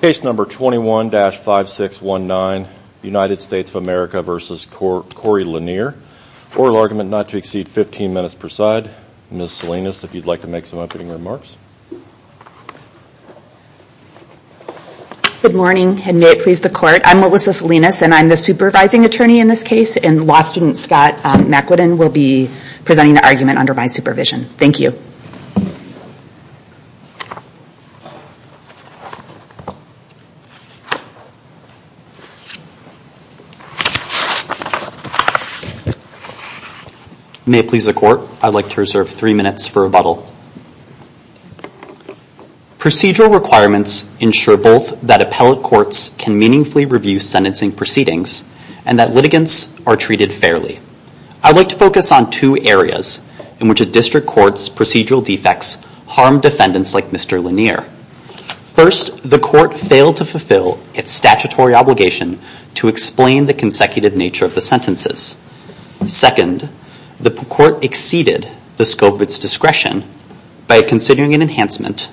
Case number 21-5619, United States of America v. Corey Lanier. Oral argument not to exceed 15 minutes per side. Ms. Salinas, if you'd like to make some opening remarks. Good morning, and may it please the court. I'm Melissa Salinas, and I'm the supervising attorney in this case, and law student Scott McQuidden will be presenting the argument under my supervision. Thank you. May it please the court. I'd like to reserve three minutes for rebuttal. Procedural requirements ensure both that appellate courts can meaningfully review sentencing proceedings and that litigants are treated fairly. I'd like to focus on two areas in which a district court's procedural defects harm defendants like Mr. Lanier. First, the court failed to fulfill its statutory obligation to explain the consecutive nature of the sentences. Second, the court exceeded the scope of its discretion by considering an enhancement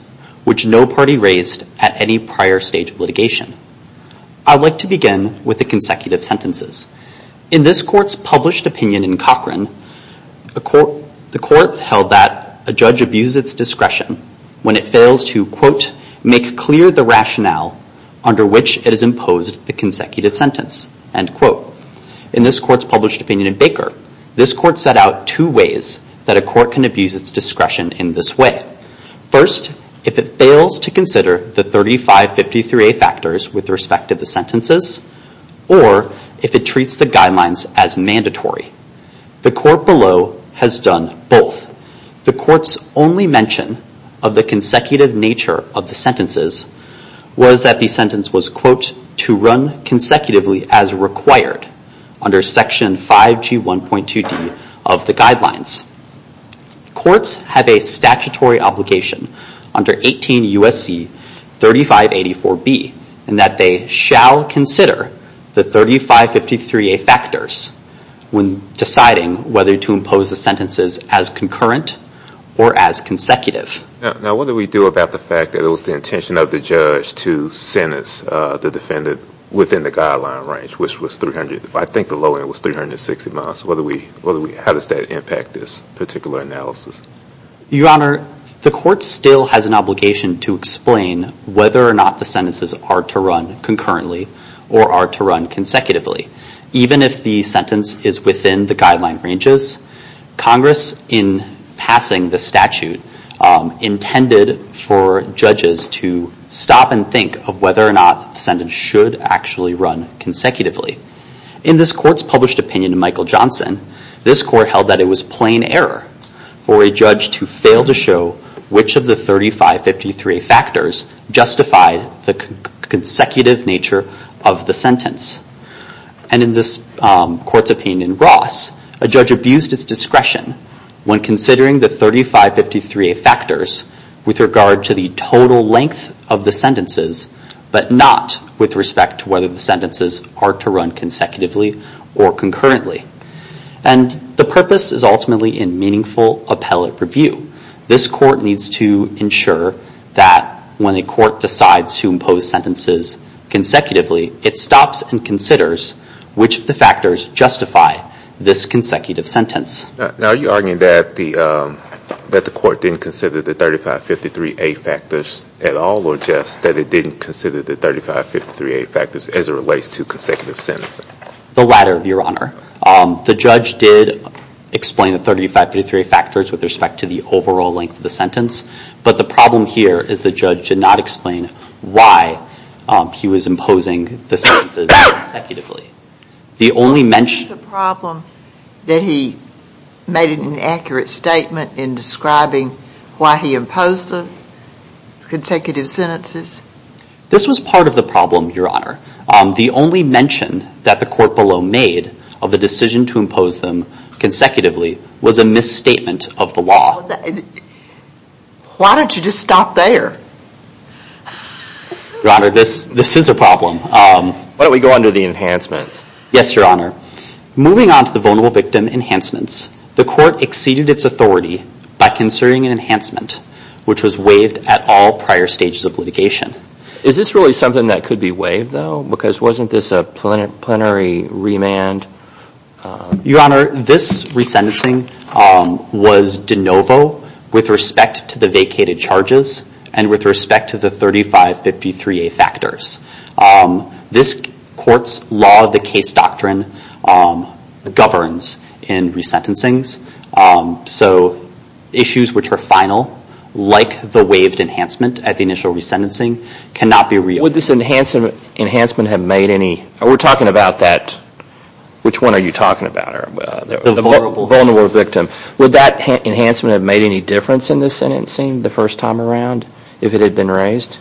which no party raised at any prior stage of litigation. I'd like to begin with the consecutive sentences. In this court's published opinion in Cochrane, the court held that a judge abuses its discretion when it fails to, In this court's published opinion in Baker, this court set out two ways that a court can abuse its discretion in this way. First, if it fails to consider the 3553A factors with respect to the sentences, or if it treats the guidelines as mandatory. The court below has done both. The court's only mention of the consecutive nature of the sentences was that the sentence was, Courts have a statutory obligation under 18 U.S.C. 3584B and that they shall consider the 3553A factors when deciding whether to impose the sentences as concurrent or as consecutive. Now what do we do about the fact that it was the intention of the judge to sentence the defendant within the guideline range, which was 300, I think the low end was 360 miles. How does that impact this particular analysis? Your Honor, the court still has an obligation to explain whether or not the sentences are to run concurrently or are to run consecutively. Even if the sentence is within the guideline ranges, Congress in passing the statute intended for judges to stop and think of whether or not the sentence should actually run consecutively. In this court's published opinion in Michael Johnson, this court held that it was plain error for a judge to fail to show which of the 3553A factors justified the consecutive nature of the sentence. And in this court's opinion in Ross, a judge abused its discretion when considering the 3553A factors with regard to the total length of the sentences, but not with respect to whether the sentences are to run consecutively or concurrently. And the purpose is ultimately in meaningful appellate review. This court needs to ensure that when a court decides to impose sentences consecutively, it stops and considers which of the factors justify this consecutive sentence. Now are you arguing that the court didn't consider the 3553A factors at all or just that it didn't consider the 3553A factors as it relates to consecutive sentences? The latter, Your Honor. The judge did explain the 3553A factors with respect to the overall length of the sentence, but the problem here is the judge did not explain why he was imposing the sentences consecutively. The only mention- Was it a problem that he made an inaccurate statement in describing why he imposed the consecutive sentences? This was part of the problem, Your Honor. The only mention that the court below made of the decision to impose them consecutively was a misstatement of the law. Why don't you just stop there? Your Honor, this is a problem. Why don't we go on to the enhancements? Yes, Your Honor. Moving on to the vulnerable victim enhancements, the court exceeded its authority by considering an enhancement which was waived at all prior stages of litigation. Is this really something that could be waived, though? Because wasn't this a plenary remand? Your Honor, this resentencing was de novo with respect to the vacated charges and with respect to the 3553A factors. This court's law of the case doctrine governs in resentencings. So issues which are final, like the waived enhancement at the initial resentencing, cannot be re-enhanced. Would this enhancement have made any- We're talking about that- Which one are you talking about? The vulnerable victim. Would that enhancement have made any difference in this sentencing the first time around if it had been raised?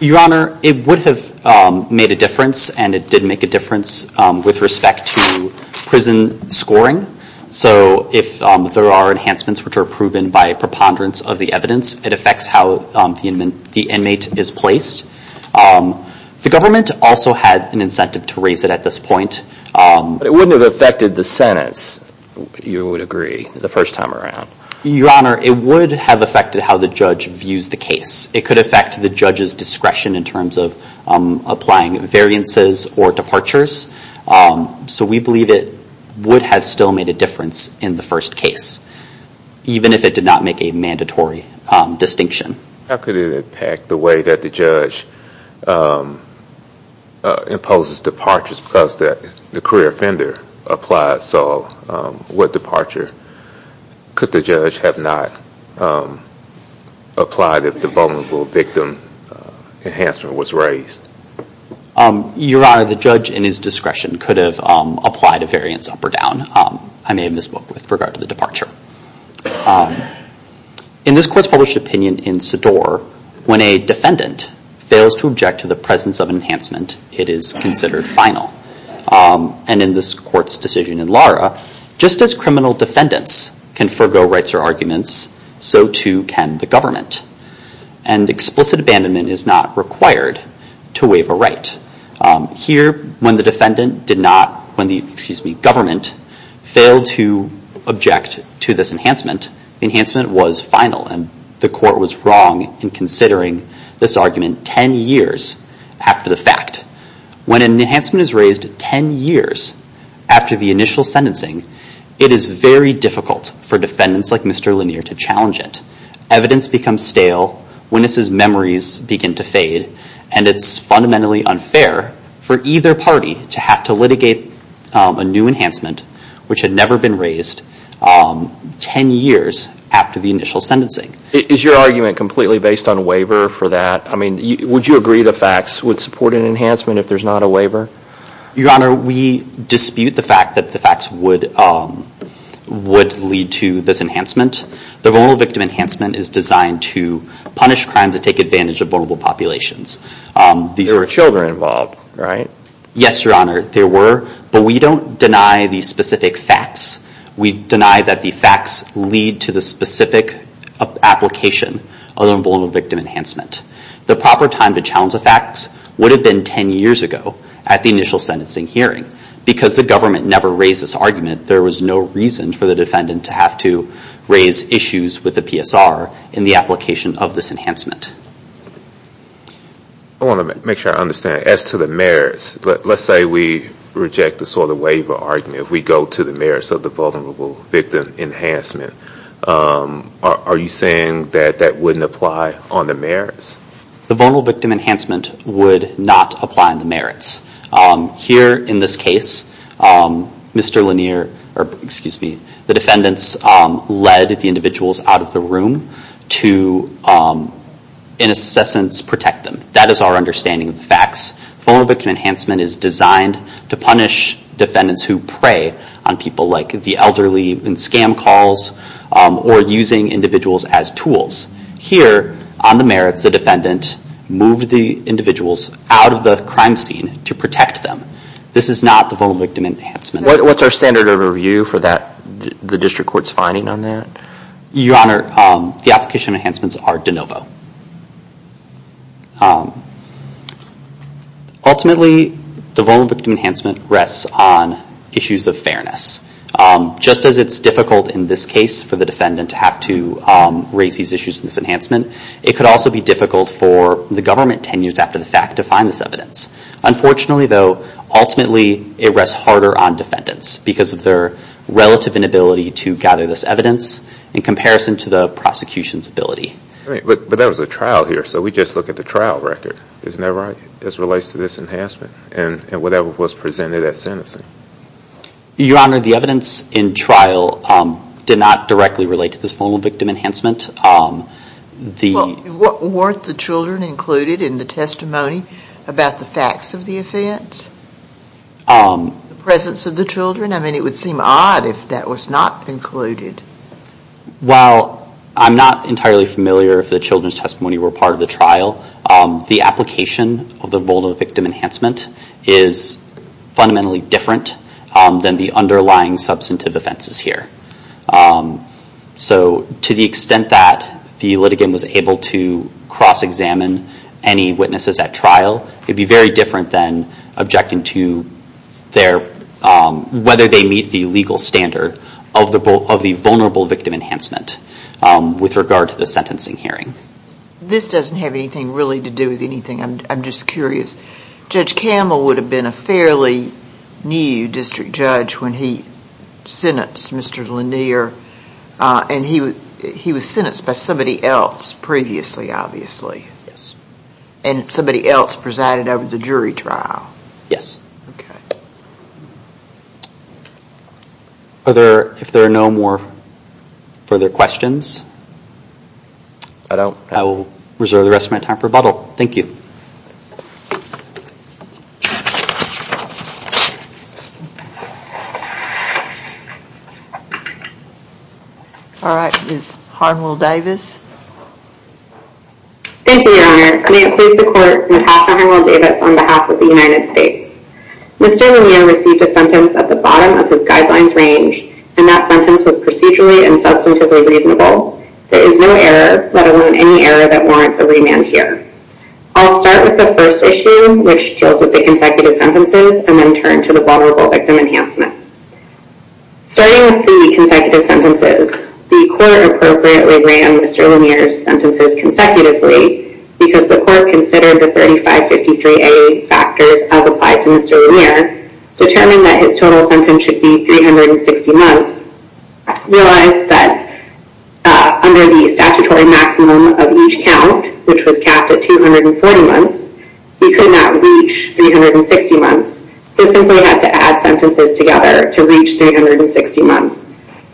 Your Honor, it would have made a difference, and it did make a difference with respect to prison scoring. So if there are enhancements which are proven by preponderance of the evidence, it affects how the inmate is placed. The government also had an incentive to raise it at this point. But it wouldn't have affected the sentence, you would agree, the first time around. Your Honor, it would have affected how the judge views the case. It could affect the judge's discretion in terms of applying variances or departures. So we believe it would have still made a difference in the first case, even if it did not make a mandatory distinction. How could it impact the way that the judge imposes departures because the career offender applied, so what departure could the judge have not applied if the vulnerable victim enhancement was raised? Your Honor, the judge in his discretion could have applied a variance up or down. I may have misspoke with regard to the departure. In this Court's published opinion in Sador, when a defendant fails to object to the presence of enhancement, it is considered final. And in this Court's decision in Lara, just as criminal defendants can forgo rights or arguments, so too can the government. And explicit abandonment is not required to waive a right. Here, when the government failed to object to this enhancement, the enhancement was final. And the Court was wrong in considering this argument 10 years after the fact. When an enhancement is raised 10 years after the initial sentencing, it is very difficult for defendants like Mr. Lanier to challenge it. Evidence becomes stale. Witnesses' memories begin to fade. And it's fundamentally unfair for either party to have to litigate a new enhancement which had never been raised 10 years after the initial sentencing. Is your argument completely based on waiver for that? I mean, would you agree the facts would support an enhancement if there's not a waiver? Your Honor, we dispute the fact that the facts would lead to this enhancement. The vulnerable victim enhancement is designed to punish crimes that take advantage of vulnerable populations. There were children involved, right? Yes, Your Honor, there were. But we don't deny the specific facts. We deny that the facts lead to the specific application of the vulnerable victim enhancement. The proper time to challenge the facts would have been 10 years ago at the initial sentencing hearing. Because the government never raised this argument, there was no reason for the defendant to have to raise issues with the PSR in the application of this enhancement. I want to make sure I understand. As to the merits, let's say we reject the sort of waiver argument. If we go to the merits of the vulnerable victim enhancement, are you saying that that wouldn't apply on the merits? The vulnerable victim enhancement would not apply on the merits. Here in this case, Mr. Lanier, or excuse me, the defendants led the individuals out of the room to, in a sense, protect them. That is our understanding of the facts. Vulnerable victim enhancement is designed to punish defendants who prey on people like the elderly in scam calls or using individuals as tools. Here on the merits, the defendant moved the individuals out of the crime scene to protect them. This is not the vulnerable victim enhancement. What's our standard of review for the district court's finding on that? Your Honor, the application enhancements are de novo. Ultimately, the vulnerable victim enhancement rests on issues of fairness. Just as it's difficult in this case for the defendant to have to raise these issues in this enhancement, it could also be difficult for the government 10 years after the fact to find this evidence. Unfortunately, though, ultimately it rests harder on defendants because of their relative inability to gather this evidence in comparison to the prosecution's ability. But that was a trial here, so we just look at the trial record. Isn't that right, as it relates to this enhancement and whatever was presented at sentencing? Your Honor, the evidence in trial did not directly relate to this vulnerable victim enhancement. Weren't the children included in the testimony about the facts of the offense? The presence of the children? I mean, it would seem odd if that was not included. While I'm not entirely familiar if the children's testimony were part of the trial, the application of the vulnerable victim enhancement is fundamentally different than the underlying substantive offenses here. So to the extent that the litigant was able to cross-examine any witnesses at trial, it would be very different than objecting to whether they meet the legal standard of the vulnerable victim enhancement with regard to the sentencing hearing. This doesn't have anything really to do with anything. I'm just curious. Judge Camel would have been a fairly new district judge when he sentenced Mr. Lanier, and he was sentenced by somebody else previously, obviously. Yes. And somebody else presided over the jury trial. Yes. Okay. If there are no more further questions, I will reserve the rest of my time for rebuttal. Thank you. All right. Ms. Hardwell Davis. Thank you, Your Honor. I'm going to accuse the court Natasha Hardwell Davis on behalf of the United States. Mr. Lanier received a sentence at the bottom of his guidelines range, and that sentence was procedurally and substantively reasonable. There is no error, let alone any error that warrants a remand here. I'll start with the first issue, which deals with the consecutive sentences, and then turn to the vulnerable victim enhancement. Starting with the consecutive sentences, the court appropriately weighed on Mr. Lanier's sentences consecutively because the court considered the 3553A factors as applied to Mr. Lanier, determined that his total sentence should be 360 months, realized that under the statutory maximum of each count, which was capped at 240 months, he could not reach 360 months, so simply had to add sentences together to reach 360 months,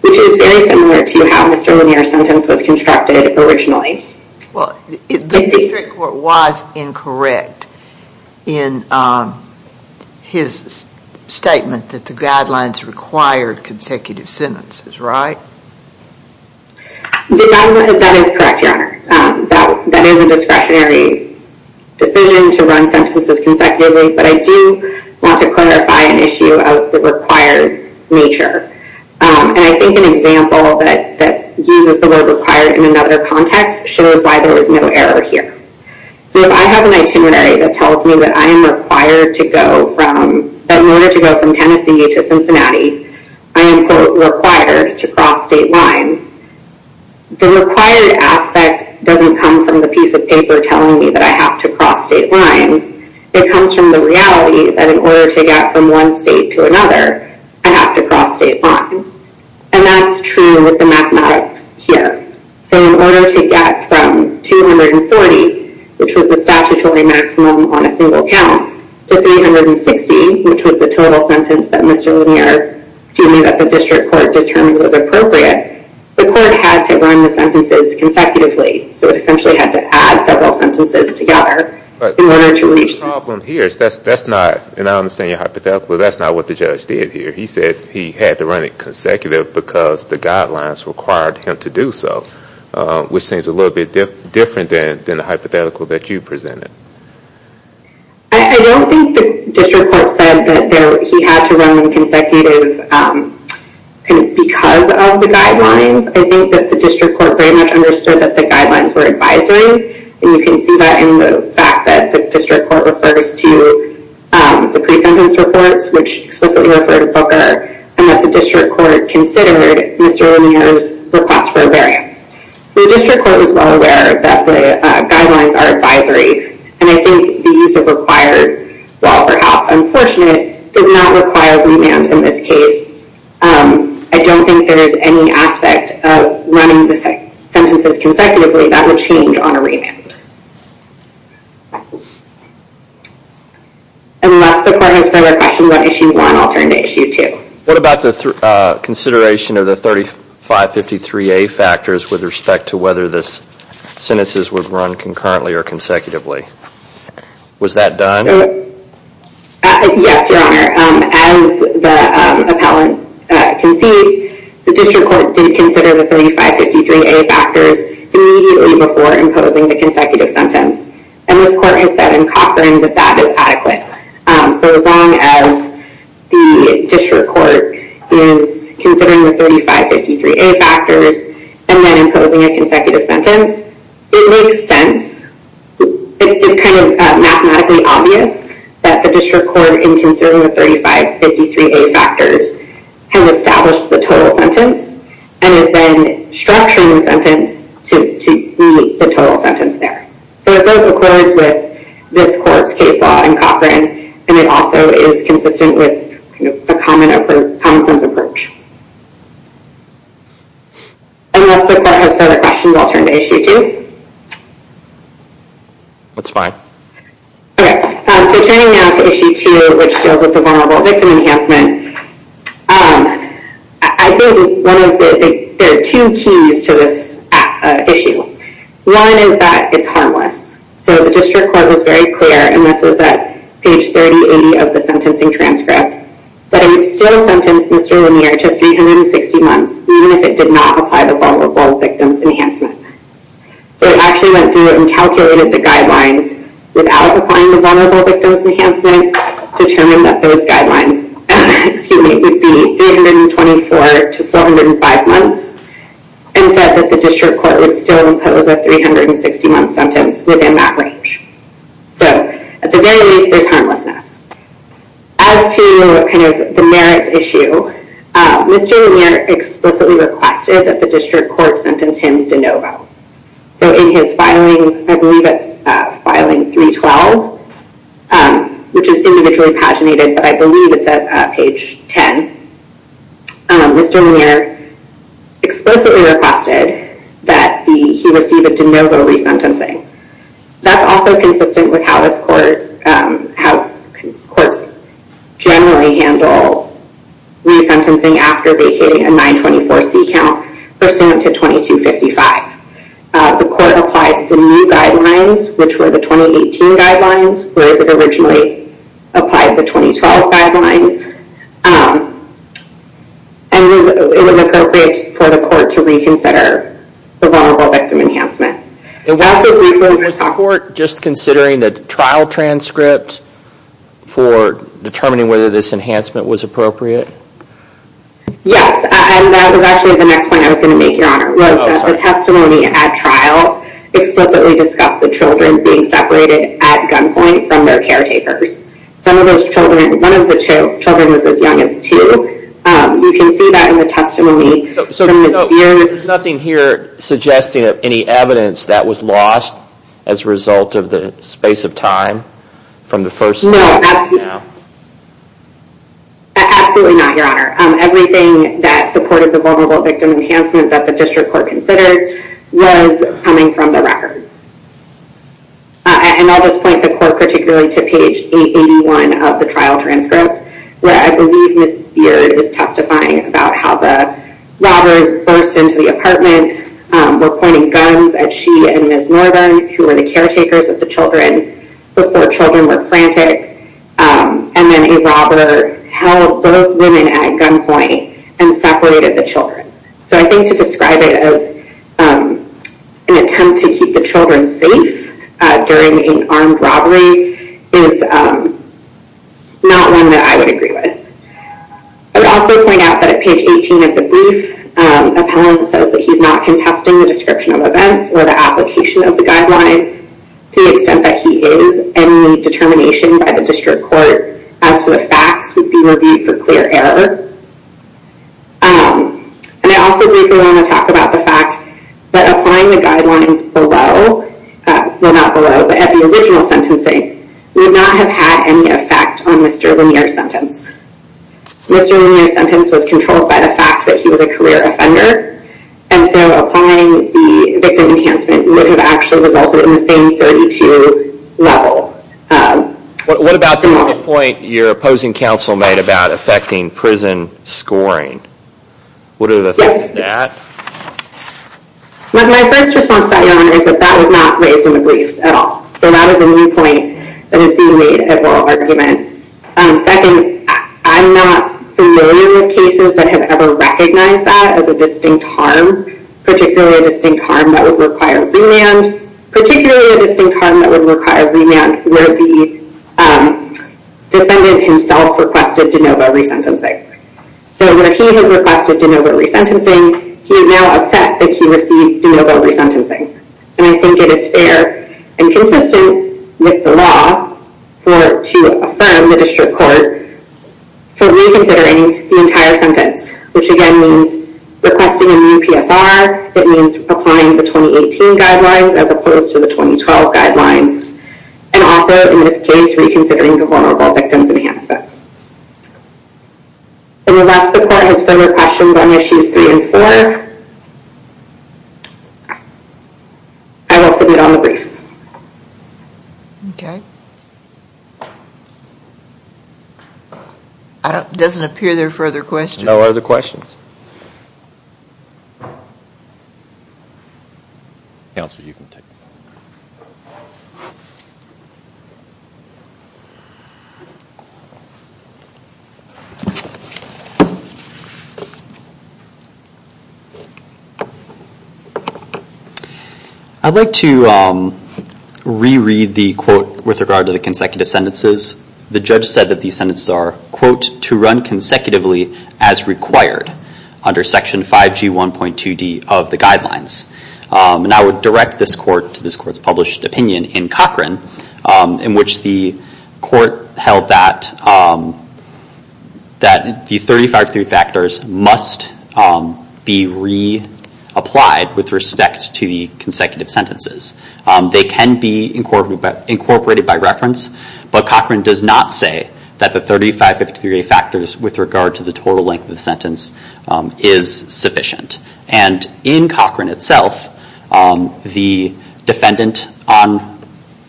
which is very similar to how Mr. Lanier's sentence was constructed originally. The district court was incorrect in his statement that the guidelines required consecutive sentences, right? That is correct, Your Honor. That is a discretionary decision to run sentences consecutively, but I do want to clarify an issue of the required nature. I think an example that uses the word required in another context shows why there is no error here. If I have an itinerary that tells me that in order to go from Tennessee to Cincinnati, I am, quote, required to cross state lines, the required aspect doesn't come from the piece of paper telling me that I have to cross state lines. It comes from the reality that in order to get from one state to another, I have to cross state lines, and that's true with the mathematics here. So in order to get from 240, which was the statutory maximum on a single count, to 360, which was the total sentence that Mr. Lanier, excuse me, that the district court determined was appropriate, the court had to run the sentences consecutively, so it essentially had to add several sentences together in order to reach... But the problem here is that's not, and I understand your hypothetical, but that's not what the judge did here. He said he had to run it consecutive because the guidelines required him to do so, which seems a little bit different than the hypothetical that you presented. I don't think the district court said that he had to run them consecutive because of the guidelines. I think that the district court very much understood that the guidelines were advisory, and you can see that in the fact that the district court refers to the pre-sentence reports, which explicitly refer to Booker, and that the district court considered Mr. Lanier's request for a variance. So the district court was well aware that the guidelines are advisory, and I think the use of required, while perhaps unfortunate, does not require remand in this case. I don't think there is any aspect of running the sentences consecutively that would change on a remand. Unless the court has further questions on Issue 1, I'll turn to Issue 2. What about the consideration of the 3553A factors with respect to whether the sentences would run concurrently or consecutively? Was that done? Yes, Your Honor. As the appellant concedes, the district court did consider the 3553A factors immediately before imposing the consecutive sentence, and this court has said in Cochran that that is adequate. So as long as the district court is considering the 3553A factors and then imposing a consecutive sentence, it makes sense. It's kind of mathematically obvious that the district court, in considering the 3553A factors, has established the total sentence and is then structuring the sentence to meet the total sentence there. So it both accords with this court's case law in Cochran, and it also is consistent with a common-sense approach. Unless the court has further questions, I'll turn to Issue 2. That's fine. Okay, so turning now to Issue 2, which deals with the vulnerable victim enhancement, I think there are two keys to this issue. One is that it's harmless. So the district court was very clear, and this was at page 3080 of the sentencing transcript, that it would still sentence Mr. Lemire to 360 months, even if it did not apply the vulnerable victim's enhancement. So it actually went through and calculated the guidelines without applying the vulnerable victim's enhancement, determined that those guidelines would be 324 to 405 months, and said that the district court would still impose a 360-month sentence within that range. So at the very least, there's harmlessness. As to the merits issue, Mr. Lemire explicitly requested that the district court sentence him de novo. So in his filings, I believe it's filing 312, which is individually paginated, but I believe it's at page 10, Mr. Lemire explicitly requested that he receive a de novo resentencing. That's also consistent with how courts generally handle resentencing after vacating a 924C count for sentencing to 2255. The court applied the new guidelines, which were the 2018 guidelines, whereas it originally applied the 2012 guidelines. And it was appropriate for the court to reconsider the vulnerable victim enhancement. Also briefly, was the court just considering the trial transcript for determining whether this enhancement was appropriate? Yes, and that was actually the next point I was going to make, Your Honor. The testimony at trial explicitly discussed the children being separated at gunpoint from their caretakers. One of the children was as young as two. You can see that in the testimony from Ms. Beard. There's nothing here suggesting any evidence that was lost as a result of the space of time from the first statement? No, absolutely not, Your Honor. Everything that supported the vulnerable victim enhancement that the district court considered was coming from the record. And I'll just point the court particularly to page 881 of the trial transcript, where I believe Ms. Beard is testifying about how the robbers burst into the apartment, were pointing guns at she and Ms. Northern, who were the caretakers of the children, before children were frantic. And then a robber held both women at gunpoint and separated the children. So I think to describe it as an attempt to keep the children safe during an armed robbery is not one that I would agree with. I would also point out that at page 18 of the brief, appellant says that he's not contesting the description of events or the application of the guidelines to the extent that he is. Any determination by the district court as to the facts would be reviewed for clear error. And I also believe we want to talk about the fact that applying the guidelines below, well, not below, but at the original sentencing, would not have had any effect on Mr. Lanier's sentence. Mr. Lanier's sentence was controlled by the fact that he was a career offender, and so applying the victim enhancement would have actually resulted in the same 32 level. What about the point your opposing counsel made about affecting prison scoring? Would it have affected that? My first response to that, Your Honor, is that that was not raised in the briefs at all. So that is a new point that is being made at oral argument. Second, I'm not familiar with cases that have ever recognized that as a distinct harm, particularly a distinct harm that would require remand, particularly a distinct harm that would require remand where the defendant himself requested de novo resentencing. So where he has requested de novo resentencing, he is now upset that he received de novo resentencing. And I think it is fair and consistent with the law to affirm the district court for reconsidering the entire sentence, which again means requesting a new PSR, it means applying the 2018 guidelines as opposed to the 2012 guidelines, and also, in this case, reconsidering the vulnerable victims enhancement. And the last report has further questions on issues three and four. I will submit on the briefs. Okay. It doesn't appear there are further questions. No other questions. Counsel, you can take it. Thank you. I'd like to reread the quote with regard to the consecutive sentences. The judge said that the sentences are, quote, to run consecutively as required under Section 5G1.2D of the guidelines. And I would direct this court to this court's published opinion in Cochran, in which the court held that the 35-3 factors must be reapplied with respect to the consecutive sentences. They can be incorporated by reference, but Cochran does not say that the 35-53 factors with regard to the total length of the sentence is sufficient. And in Cochran itself, the defendant on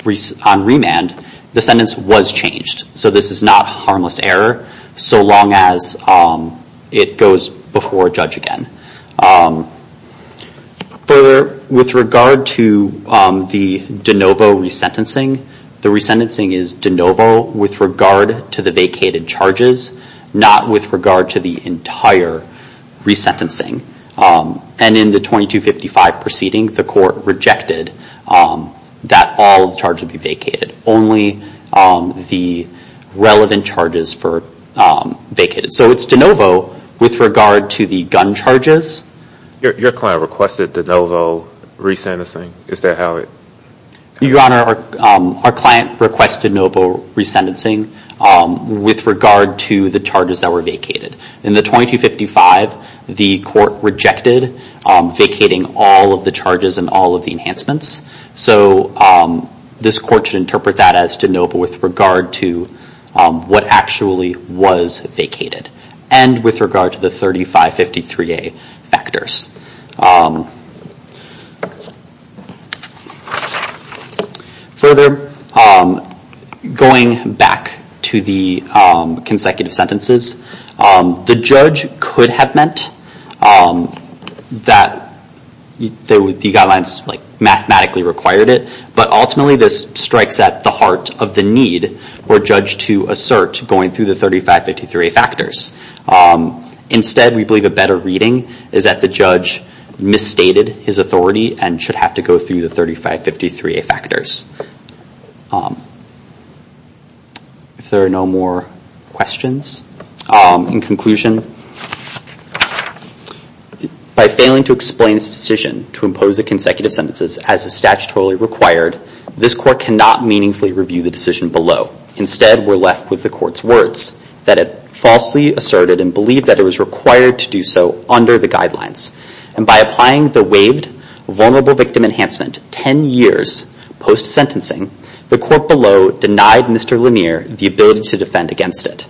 remand, the sentence was changed. So this is not harmless error, so long as it goes before a judge again. Further, with regard to the de novo resentencing, the resentencing is de novo with regard to the vacated charges, not with regard to the entire resentencing. And in the 2255 proceeding, the court rejected that all the charges be vacated, only the relevant charges for vacated. So it's de novo with regard to the gun charges. Your client requested de novo resentencing. Is that how it? Your Honor, our client requested de novo resentencing with regard to the charges that were vacated. In the 2255, the court rejected vacating all of the charges and all of the enhancements. So this court should interpret that as de novo with regard to what actually was vacated, and with regard to the 35-53A factors. Further, going back to the consecutive sentences, the judge could have meant that the guidelines mathematically required it, but ultimately this strikes at the heart of the need for a judge to assert going through the 35-53A factors. Instead, we believe a better reading is that the judge misstated his authority and should have to go through the 35-53A factors. If there are no more questions. In conclusion, by failing to explain its decision to impose the consecutive sentences as is statutorily required, this court cannot meaningfully review the decision below. Instead, we're left with the court's words, that it falsely asserted and believed that it was required to do so under the guidelines. And by applying the waived vulnerable victim enhancement 10 years post sentencing, the court below denied Mr. Lemire the ability to defend against it.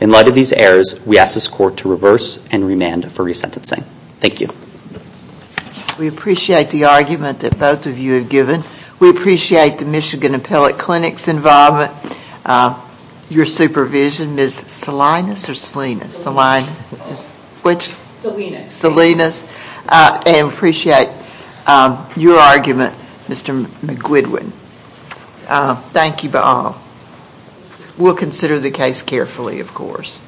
In light of these errors, we ask this court to reverse and remand for resentencing. We appreciate the argument that both of you have given. We appreciate the Michigan Appellate Clinic's involvement, your supervision, Ms. Salinas, and appreciate your argument, Mr. McQuidwin. Thank you all. We'll consider the case carefully, of course.